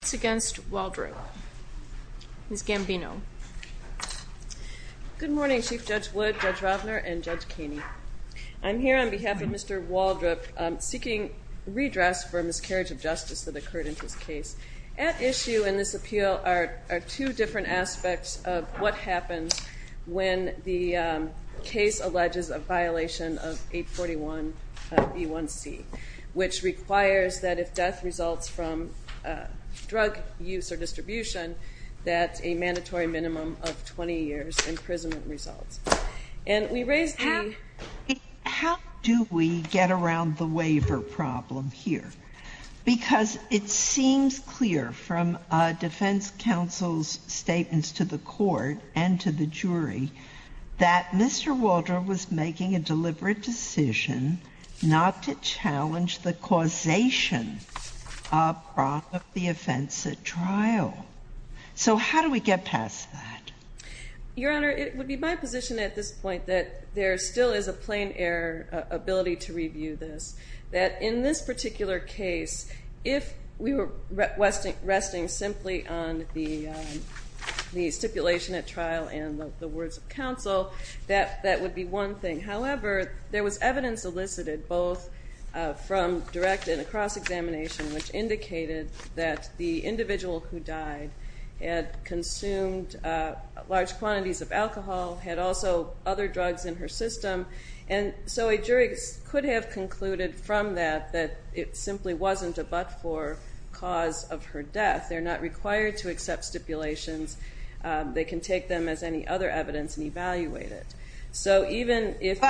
It's against Waldrop. Ms. Gambino. Good morning Chief Judge Wood, Judge Ravner, and Judge Kaney. I'm here on behalf of Mr. Waldrop seeking redress for a miscarriage of justice that occurred in his case. At issue in this appeal are two different aspects of what happens when the case alleges a violation of 841 B1c which requires that if death results from drug use or distribution that a mandatory minimum of 20 years imprisonment results. And we raised the... How do we get around the waiver problem here? Because it seems clear from defense counsel's statements to the court and to the jury that Mr. Waldrop was making a causation of the offense at trial. So how do we get past that? Your Honor, it would be my position at this point that there still is a plein air ability to review this. That in this particular case if we were resting simply on the stipulation at trial and the words of counsel that that would be one thing. However, there was evidence elicited both from direct and across examination which indicated that the individual who died had consumed large quantities of alcohol, had also other drugs in her system, and so a jury could have concluded from that that it simply wasn't a but-for cause of her death. They're not required to accept stipulations. They can take them as any other evidence and evaluate it. So even if...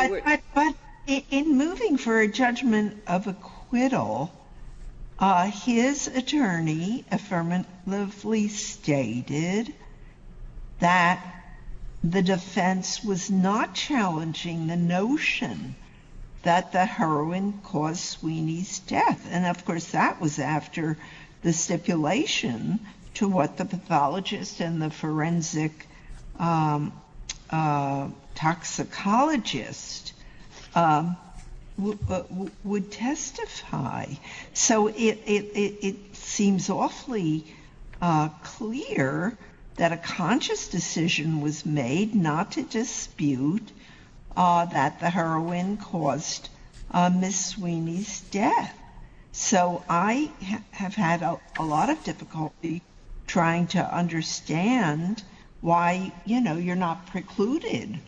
But in moving for a judgment of acquittal, his attorney affirmatively stated that the defense was not challenging the notion that the heroin caused Sweeney's death. And of course that was after the stipulation to what the pathologist and the forensic toxicologist would testify. So it seems awfully clear that a conscious decision was made not to dispute that the to understand why, you know, you're not precluded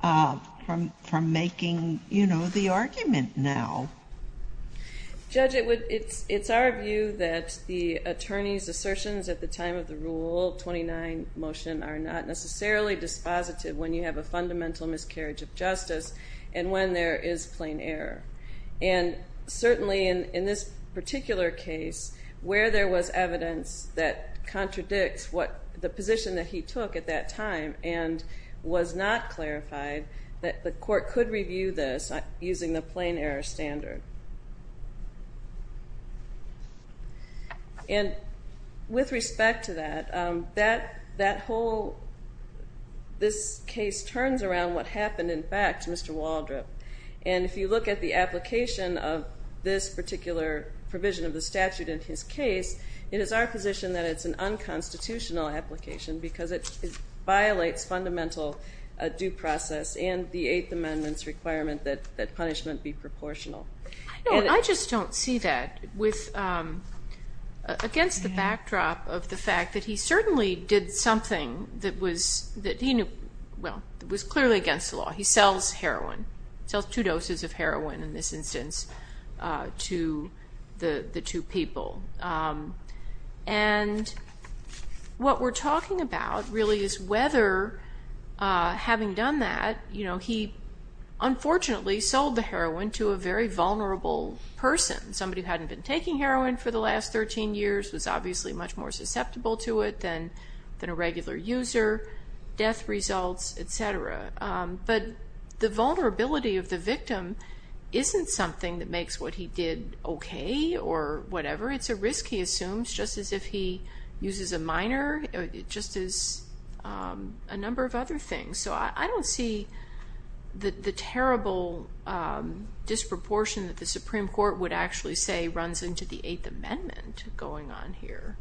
from making, you know, the argument now. Judge, it's our view that the attorney's assertions at the time of the Rule 29 motion are not necessarily dispositive when you have a fundamental miscarriage of justice and when there is plein air. And certainly in this particular case, where there was evidence that contradicts what the position that he took at that time and was not clarified, that the court could review this using the plein air standard. And with respect to that, that whole... This case turns around what happened in fact, Mr. Waldrop, and if you look at the particular provision of the statute in his case, it is our position that it's an unconstitutional application because it violates fundamental due process and the Eighth Amendment's requirement that that punishment be proportional. No, I just don't see that against the backdrop of the fact that he certainly did something that was that he knew, well, it was clearly against the law. He sells heroin. He sells two doses of heroin in this instance to the two people. And what we're talking about really is whether, having done that, you know, he unfortunately sold the heroin to a very vulnerable person. Somebody who hadn't been taking heroin for the last 13 years was obviously much more susceptible to it than a The vulnerability of the victim isn't something that makes what he did okay or whatever. It's a risk, he assumes, just as if he uses a minor. It just is a number of other things. So I don't see the terrible disproportion that the Supreme Court would actually say runs into the Eighth Amendment going on here.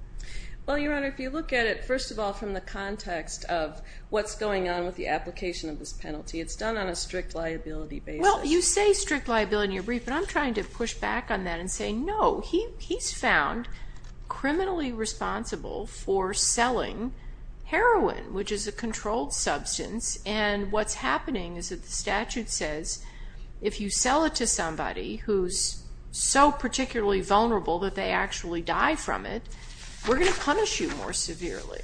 Well, Your Honor, if you look at it, first of all, from the context of what's going on with the application of this penalty, it's done on a strict liability basis. Well, you say strict liability in your brief, but I'm trying to push back on that and say, no, he's found criminally responsible for selling heroin, which is a controlled substance, and what's happening is that the statute says if you sell it to somebody who's so particularly vulnerable that they actually die from it, we're going to punish you more severely.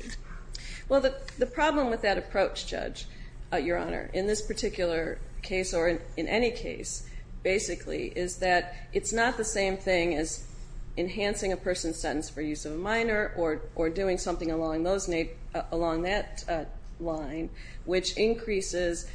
Well, the problem with that approach, Judge, Your Honor, in this particular case or in any case, basically, is that it's not the same thing as enhancing a person's sentence for use of a minor or doing something along that line, which increases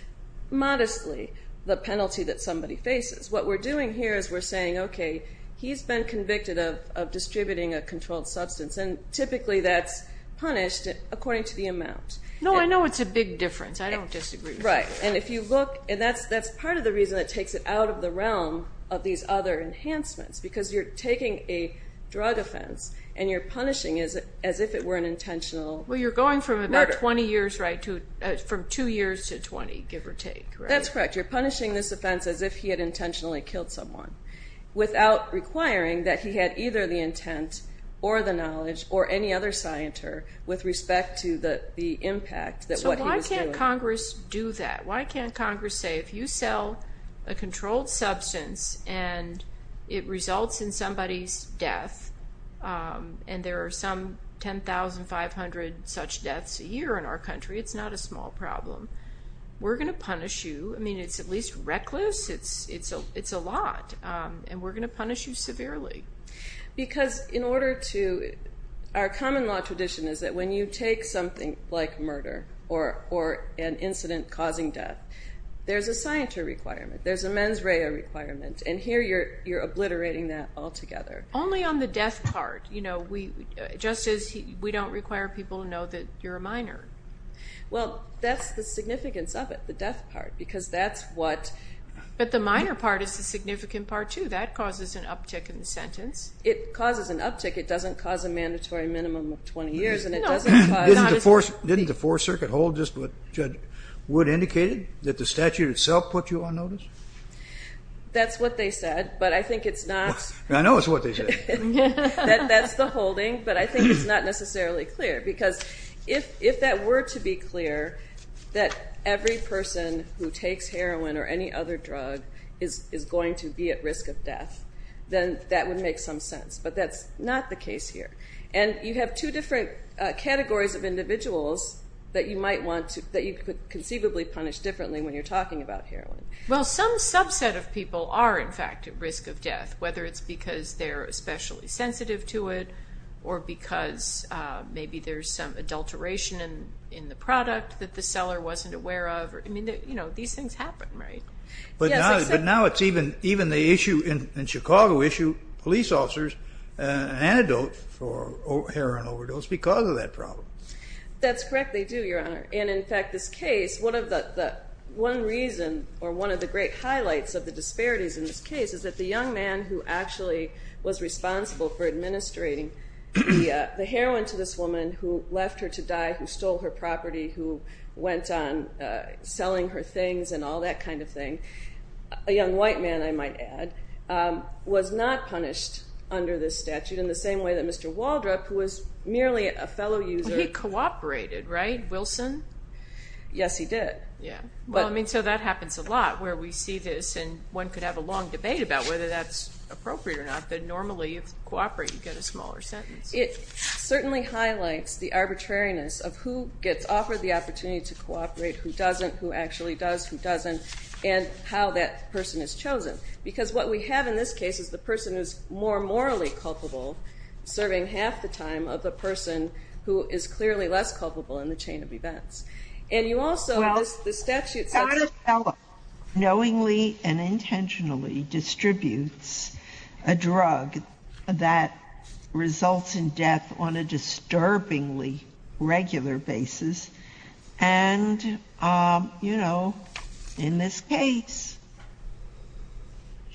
modestly the penalty that somebody faces. What we're doing here is we're saying, okay, he's been convicted of distributing a controlled substance, and typically that's punished according to the amount. No, I know it's a big difference. I don't disagree. Right, and if you look, and that's part of the reason that takes it out of the realm of these other enhancements, because you're taking a drug offense and you're punishing as if it were an intentional murder. Well, you're going from about 20 years, right, from two years to 20, give or take, right? That's correct. You're punishing this offense as if he had intentionally killed someone without requiring that he had either the intent or the knowledge or any other scienter with respect to the impact that what he was doing. So why can't Congress do that? Why can't Congress say, if you sell a controlled substance and it results in somebody's death, and there are some 10,500 such deaths a year in our country, it's not a small problem. We're going to punish you. I mean, it's at least reckless. It's a lot, and we're going to punish you severely. Because in order to, our common law tradition is that when you take something like murder or an incident causing death, there's a scienter requirement. There's a mens rea requirement, and here you're obliterating that altogether. Only on the death part, you know, we, just as we don't require people to know that you're a minor. Well, that's the significance of it, the death part, because that's what... But the minor part is the significant part, too. That causes an uptick in the sentence. It causes an uptick. It doesn't cause a mandatory minimum of 20 years, and it doesn't cause... Didn't the Fourth Circuit hold just what Judge Wood indicated, that the statute itself put you on notice? That's what they said, but I think it's not... I know it's what they said. That's the holding, but I think it's not necessarily clear, because if that were to be clear, that every person who takes heroin or any other drug is going to be at risk of death, then that would make some sense. But that's not the case here, and you have two different categories of individuals that you might want to... that you could conceivably punish differently when you're talking about heroin. Well, some subset of people are, in fact, at risk of death, whether it's because they're especially sensitive to it, or because maybe there's some adulteration in the product that the But now it's even... even the issue in Chicago issue, police officers antidote for heroin overdose because of that problem. That's correct, they do, Your Honor, and in fact this case, one of the... one reason, or one of the great highlights of the disparities in this case, is that the young man who actually was responsible for administrating the heroin to this woman, who left her to die, who stole her property, who went on selling her things, and all that kind of thing, a young white man, I might add, was not punished under this statute in the same way that Mr. Waldrop, who was merely a fellow user... He cooperated, right, Wilson? Yes, he did. Yeah, well, I mean, so that happens a lot where we see this, and one could have a long debate about whether that's appropriate or not, but normally if you cooperate, you get a smaller sentence. It certainly highlights the arbitrariness of who gets offered the opportunity to cooperate, who doesn't, who doesn't, how that person is chosen, because what we have in this case is the person who's more morally culpable, serving half the time, of the person who is clearly less culpable in the chain of events. And you also, the statute says... Well, not a fellow knowingly and intentionally distributes a drug that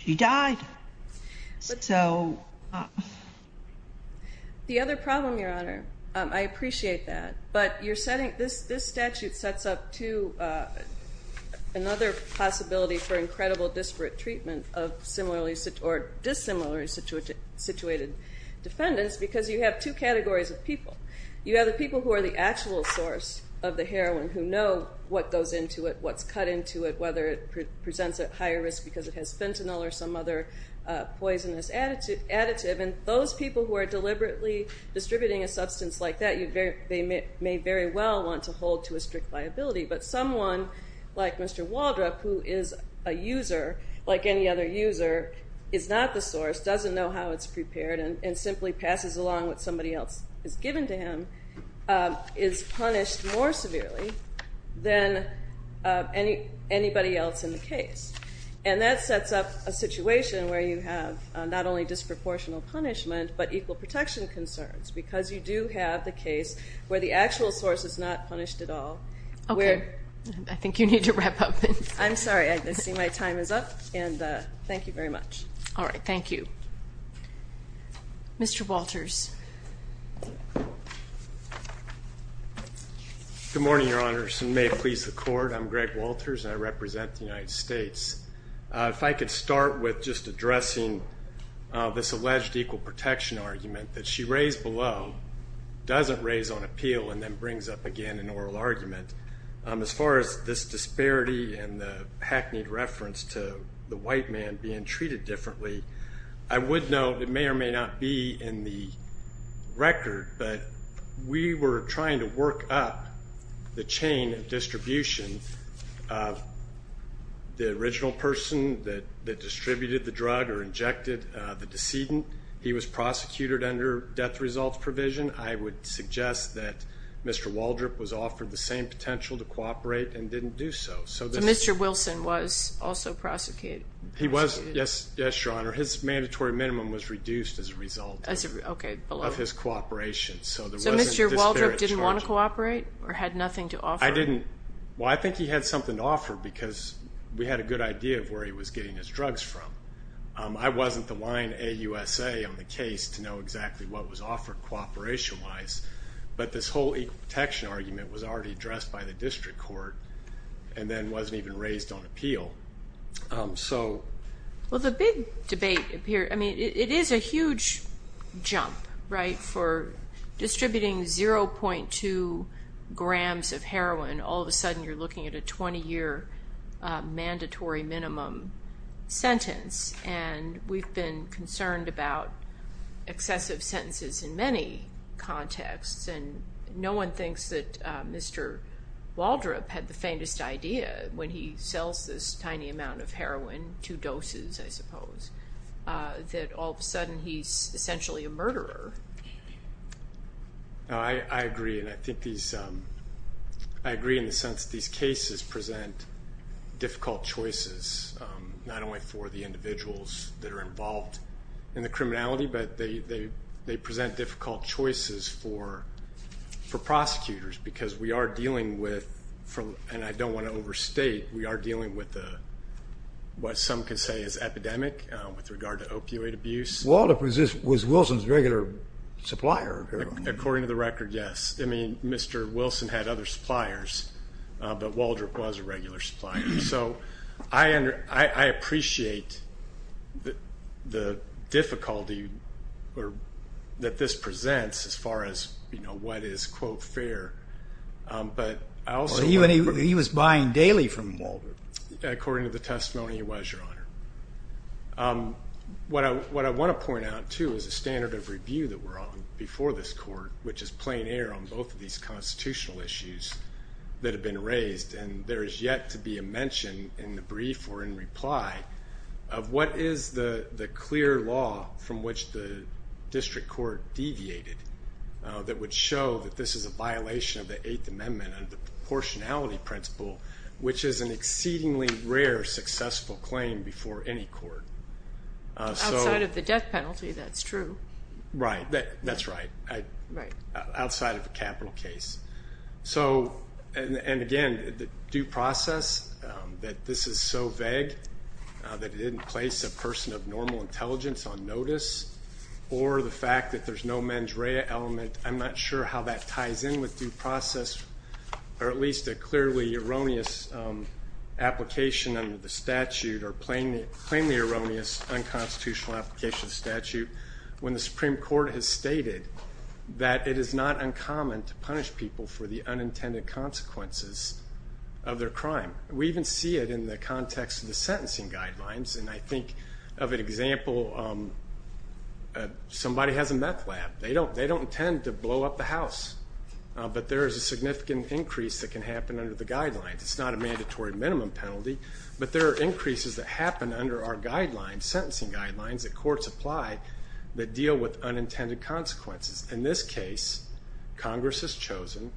she died, so... The other problem, Your Honor, I appreciate that, but you're setting... This statute sets up another possibility for incredible disparate treatment of similarly or dissimilarly situated defendants, because you have two categories of people. You have the people who are the actual source of the heroin, who know what goes into it, what's cut into it, whether it presents at higher risk because it has fentanyl or some other poisonous additive, and those people who are deliberately distributing a substance like that, they may very well want to hold to a strict liability, but someone like Mr. Waldrop, who is a user, like any other user, is not the source, doesn't know how it's prepared, and simply passes along what somebody else has given to him, is punished more severely than any anybody else in the case. And that sets up a situation where you have not only disproportional punishment, but equal protection concerns, because you do have the case where the actual source is not punished at all. Okay, I think you need to wrap up. I'm sorry, I see my time is up, and thank you very much. All right, thank you. Mr. Walters. Good morning, Your Honors, and may it please the Court, I'm Greg Walters, and I represent the United States. If I could start with just addressing this alleged equal protection argument that she raised below, doesn't raise on appeal, and then brings up again an oral argument. As far as this disparity and the hackneyed reference to the white man being treated differently, I would note it may or may not be in the record, but we were trying to work up the chain of distribution. The original person that distributed the drug or injected the decedent, he was prosecuted under death results provision. I would suggest that Mr. Waldrop was offered the same potential to cooperate and didn't do so. So Mr. Wilson was also result of his cooperation. So Mr. Waldrop didn't want to cooperate or had nothing to offer? I didn't, well, I think he had something to offer because we had a good idea of where he was getting his drugs from. I wasn't the line AUSA on the case to know exactly what was offered cooperation-wise, but this whole equal protection argument was already addressed by the District Court and then wasn't even raised on appeal. So, well, the big debate here, I mean, it is a huge jump, right? For distributing 0.2 grams of heroin, all of a sudden you're looking at a 20-year mandatory minimum sentence and we've been concerned about excessive sentences in many contexts and no one thinks that Mr. Waldrop had the faintest idea when he sells this tiny amount of heroin, two doses I suppose, that all of a sudden he's essentially a murderer. I agree and I think these, I agree in the sense these cases present difficult choices, not only for the individuals that are involved in the criminality, but they present difficult choices for prosecutors because we are dealing with, and I with regard to opioid abuse. Waldrop was Wilson's regular supplier of heroin. According to the record, yes. I mean, Mr. Wilson had other suppliers, but Waldrop was a regular supplier. So I appreciate the difficulty that this presents as far as, you know, what is quote fair, but I also... He was buying daily from Waldrop. According to the testimony, he was, Your Honor. What I want to point out too is a standard of review that we're on before this court, which is playing air on both of these constitutional issues that have been raised and there is yet to be a mention in the brief or in reply of what is the clear law from which the district court deviated that would show that this is a which is an exceedingly rare successful claim before any court. Outside of the death penalty, that's true. Right, that's right. Right. Outside of a capital case. So, and again, the due process that this is so vague that it didn't place a person of normal intelligence on notice or the fact that there's no mens rea element, I'm not sure how that ties in with due process or at least a clearly erroneous application under the statute or plainly erroneous unconstitutional application of the statute when the Supreme Court has stated that it is not uncommon to punish people for the unintended consequences of their crime. We even see it in the context of the sentencing guidelines and I think of an example, somebody has a meth lab. They don't intend to blow up the house, but there is a significant increase that can happen under the guidelines. It's not a mandatory minimum penalty, but there are increases that happen under our guidelines, sentencing guidelines, that courts apply that deal with unintended consequences. In this case, Congress has chosen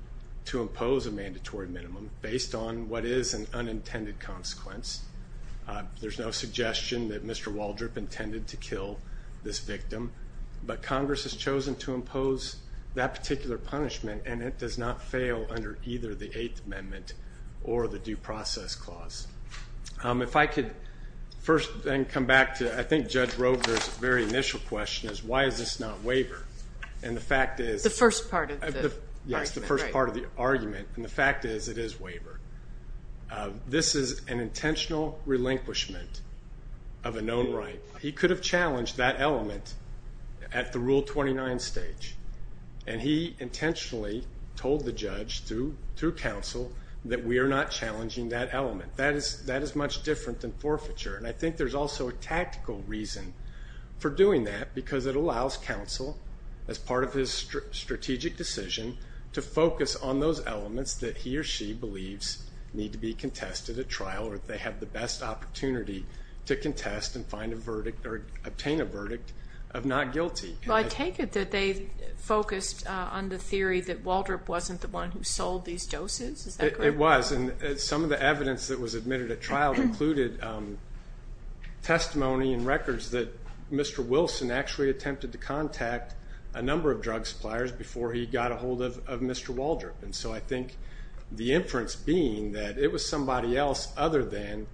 to impose a mandatory minimum based on what is an unintended consequence. There's no suggestion that Mr. Waldrop intended to kill this victim, but Congress has chosen to impose that particular punishment and it does not fail under either the Eighth Amendment or the Due Process Clause. If I could first then come back to, I think Judge Roper's very initial question is, why is this not waiver? And the fact is... The first part of the argument. Yes, the first part of the argument and the fact is, it is waiver. This is an intentional relinquishment of a known right. He could have challenged that element at the Rule 29 stage, and he intentionally told the judge through counsel that we are not challenging that element. That is much different than forfeiture, and I think there's also a tactical reason for doing that, because it allows counsel, as part of his strategic decision, to focus on those elements that he or she believes need to be contested at trial, or if they have the best opportunity to contest and find a verdict or obtain a verdict of not guilty. I take it that they focused on the theory that Waldrop wasn't the one who sold these doses, is that correct? It was, and some of the evidence that was admitted at trial included testimony and records that Mr. Wilson actually attempted to contact a number of drug suppliers before he got a hold of Mr. Waldrop. And so I think the inference being that it was somebody else other than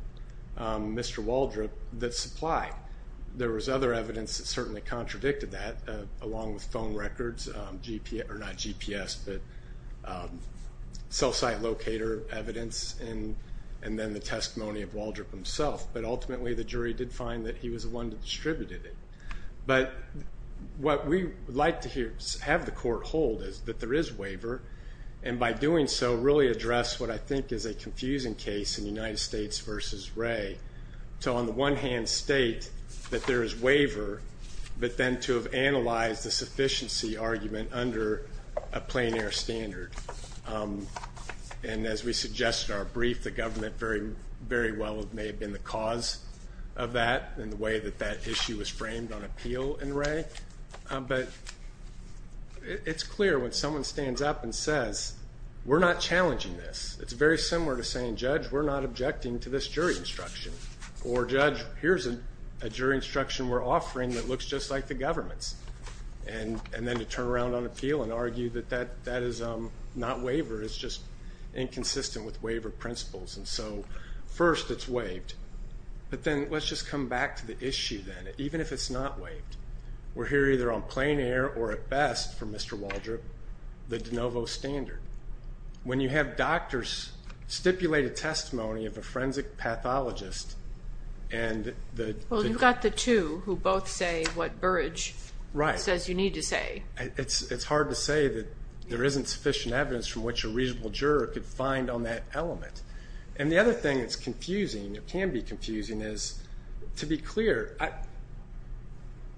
Mr. Waldrop that supplied. There was other evidence that certainly contradicted that, along with phone records, GPS... Or not GPS, but cell site locator evidence, and then the testimony of Waldrop himself. But ultimately, the jury did find that he was the one that distributed it. But what we would like to have the court hold is that there is waiver, and by doing so, really address what I think is a confusing case in United States versus Wray, to on the one hand state that there is waiver, but then to have analyzed the sufficiency argument under a plein air standard. And as we suggested in our brief, the government very well may have been the cause of that and the way that that issue was framed on appeal in Wray. But it's clear when someone stands up and says, we're not challenging this. It's very similar to saying, judge, we're not objecting to this jury instruction. Or judge, here's a jury instruction we're offering that looks just like the government's. And then to turn around on appeal and argue that that is not waiver, it's just inconsistent with waiver principles. And so first, it's waived. But then let's just come back to the issue then. Even if it's not waived, we're here either on plein air or at best, for Mr. Waldrop, the de novo standard. When you have doctors stipulate a testimony of a forensic pathologist and the... Well, you've got the two who both say what Burrage... Right. Says you need to say. It's hard to say that there isn't sufficient evidence from which a reasonable juror could find on that element. And the other thing that's confusing, that can be confusing, is to be clear,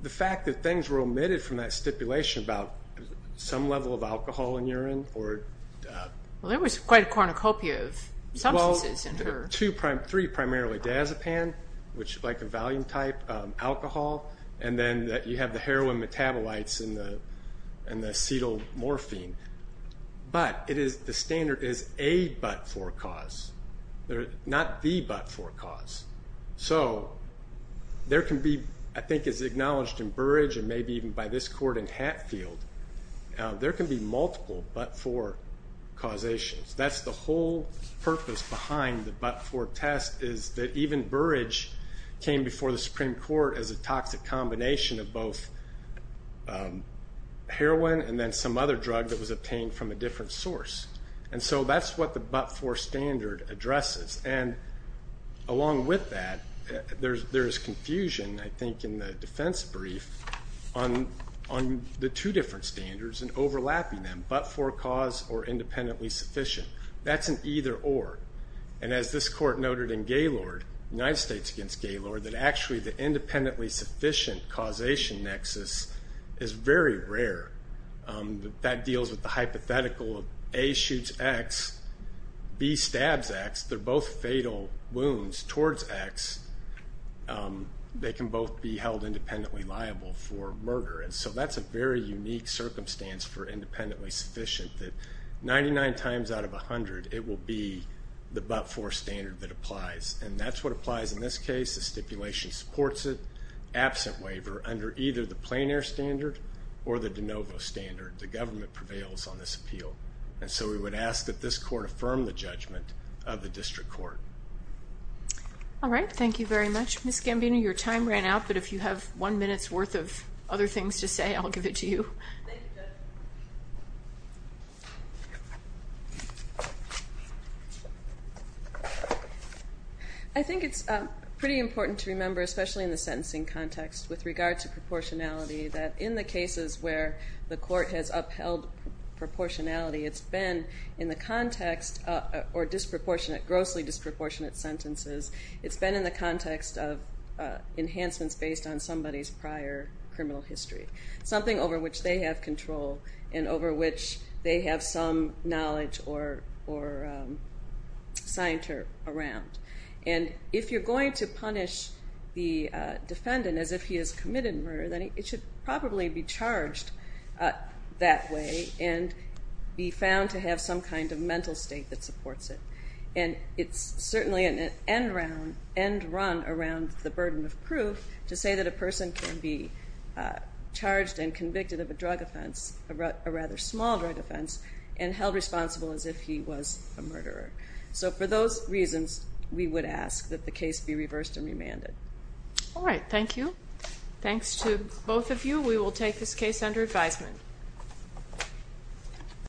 the fact that things were omitted from that stipulation about some level of alcohol in urine or... Well, there was quite a cornucopia of substances in her. Well, two, three primarily, diazepam, which is like a valium type, alcohol, and then you have the heroin metabolites and the acetylmorphine. But the standard is a but for cause. Not the but for cause. So there can be, I think it's acknowledged in Burrage and maybe even by this court in Hatfield, there can be multiple but for causations. That's the whole purpose behind the but for test, is that even Burrage came before the Supreme Court as a toxic combination of both heroin and then some other drug that was obtained from a different source. And so that's what the but for standard addresses. And along with that, there is confusion, I think, in the defense brief on the two different standards and overlapping them, but for cause or independently sufficient. That's an either or. And as this court noted in Gaylord, United States against Gaylord, that actually the independently sufficient causation nexus is very rare. That deals with the hypothetical of A shoots X, B stabs X. They're both fatal wounds towards X. They can both be held independently liable for murder. And so that's a very unique circumstance for independently sufficient, that 99 times out of 100, it will be the but for standard that applies. And that's what applies in this case. The stipulation supports it. Absent waiver under either the plein air standard or the de novo standard. The government prevails on this appeal. And so we would ask that this court affirm the judgment of the district court. All right. Thank you very much. Ms. Gambino, your time ran out, but if you have one minute's worth of other things to say, I'll give it to you. Thank you, Judge. I think it's pretty important to remember, especially in the sentencing context, with regard to proportionality, that in the cases where the court has upheld proportionality, it's been in the context or disproportionate, grossly disproportionate sentences. It's been in the context of enhancements based on somebody's prior criminal history. Something over which they have control and over which they have some knowledge or scienter around. And if you're going to punish the defendant as if he has committed murder, then it should probably be charged that way and be found to have some kind of mental state that supports it. And it's certainly an end run around the burden of proof to say that a person can be charged and convicted of a drug offense, a rather small drug offense, and held responsible as if he was a murderer. So for those reasons, we would ask that the case be reversed and remanded. All right. Thank you. Thanks to both of you. We will take this case under advisement.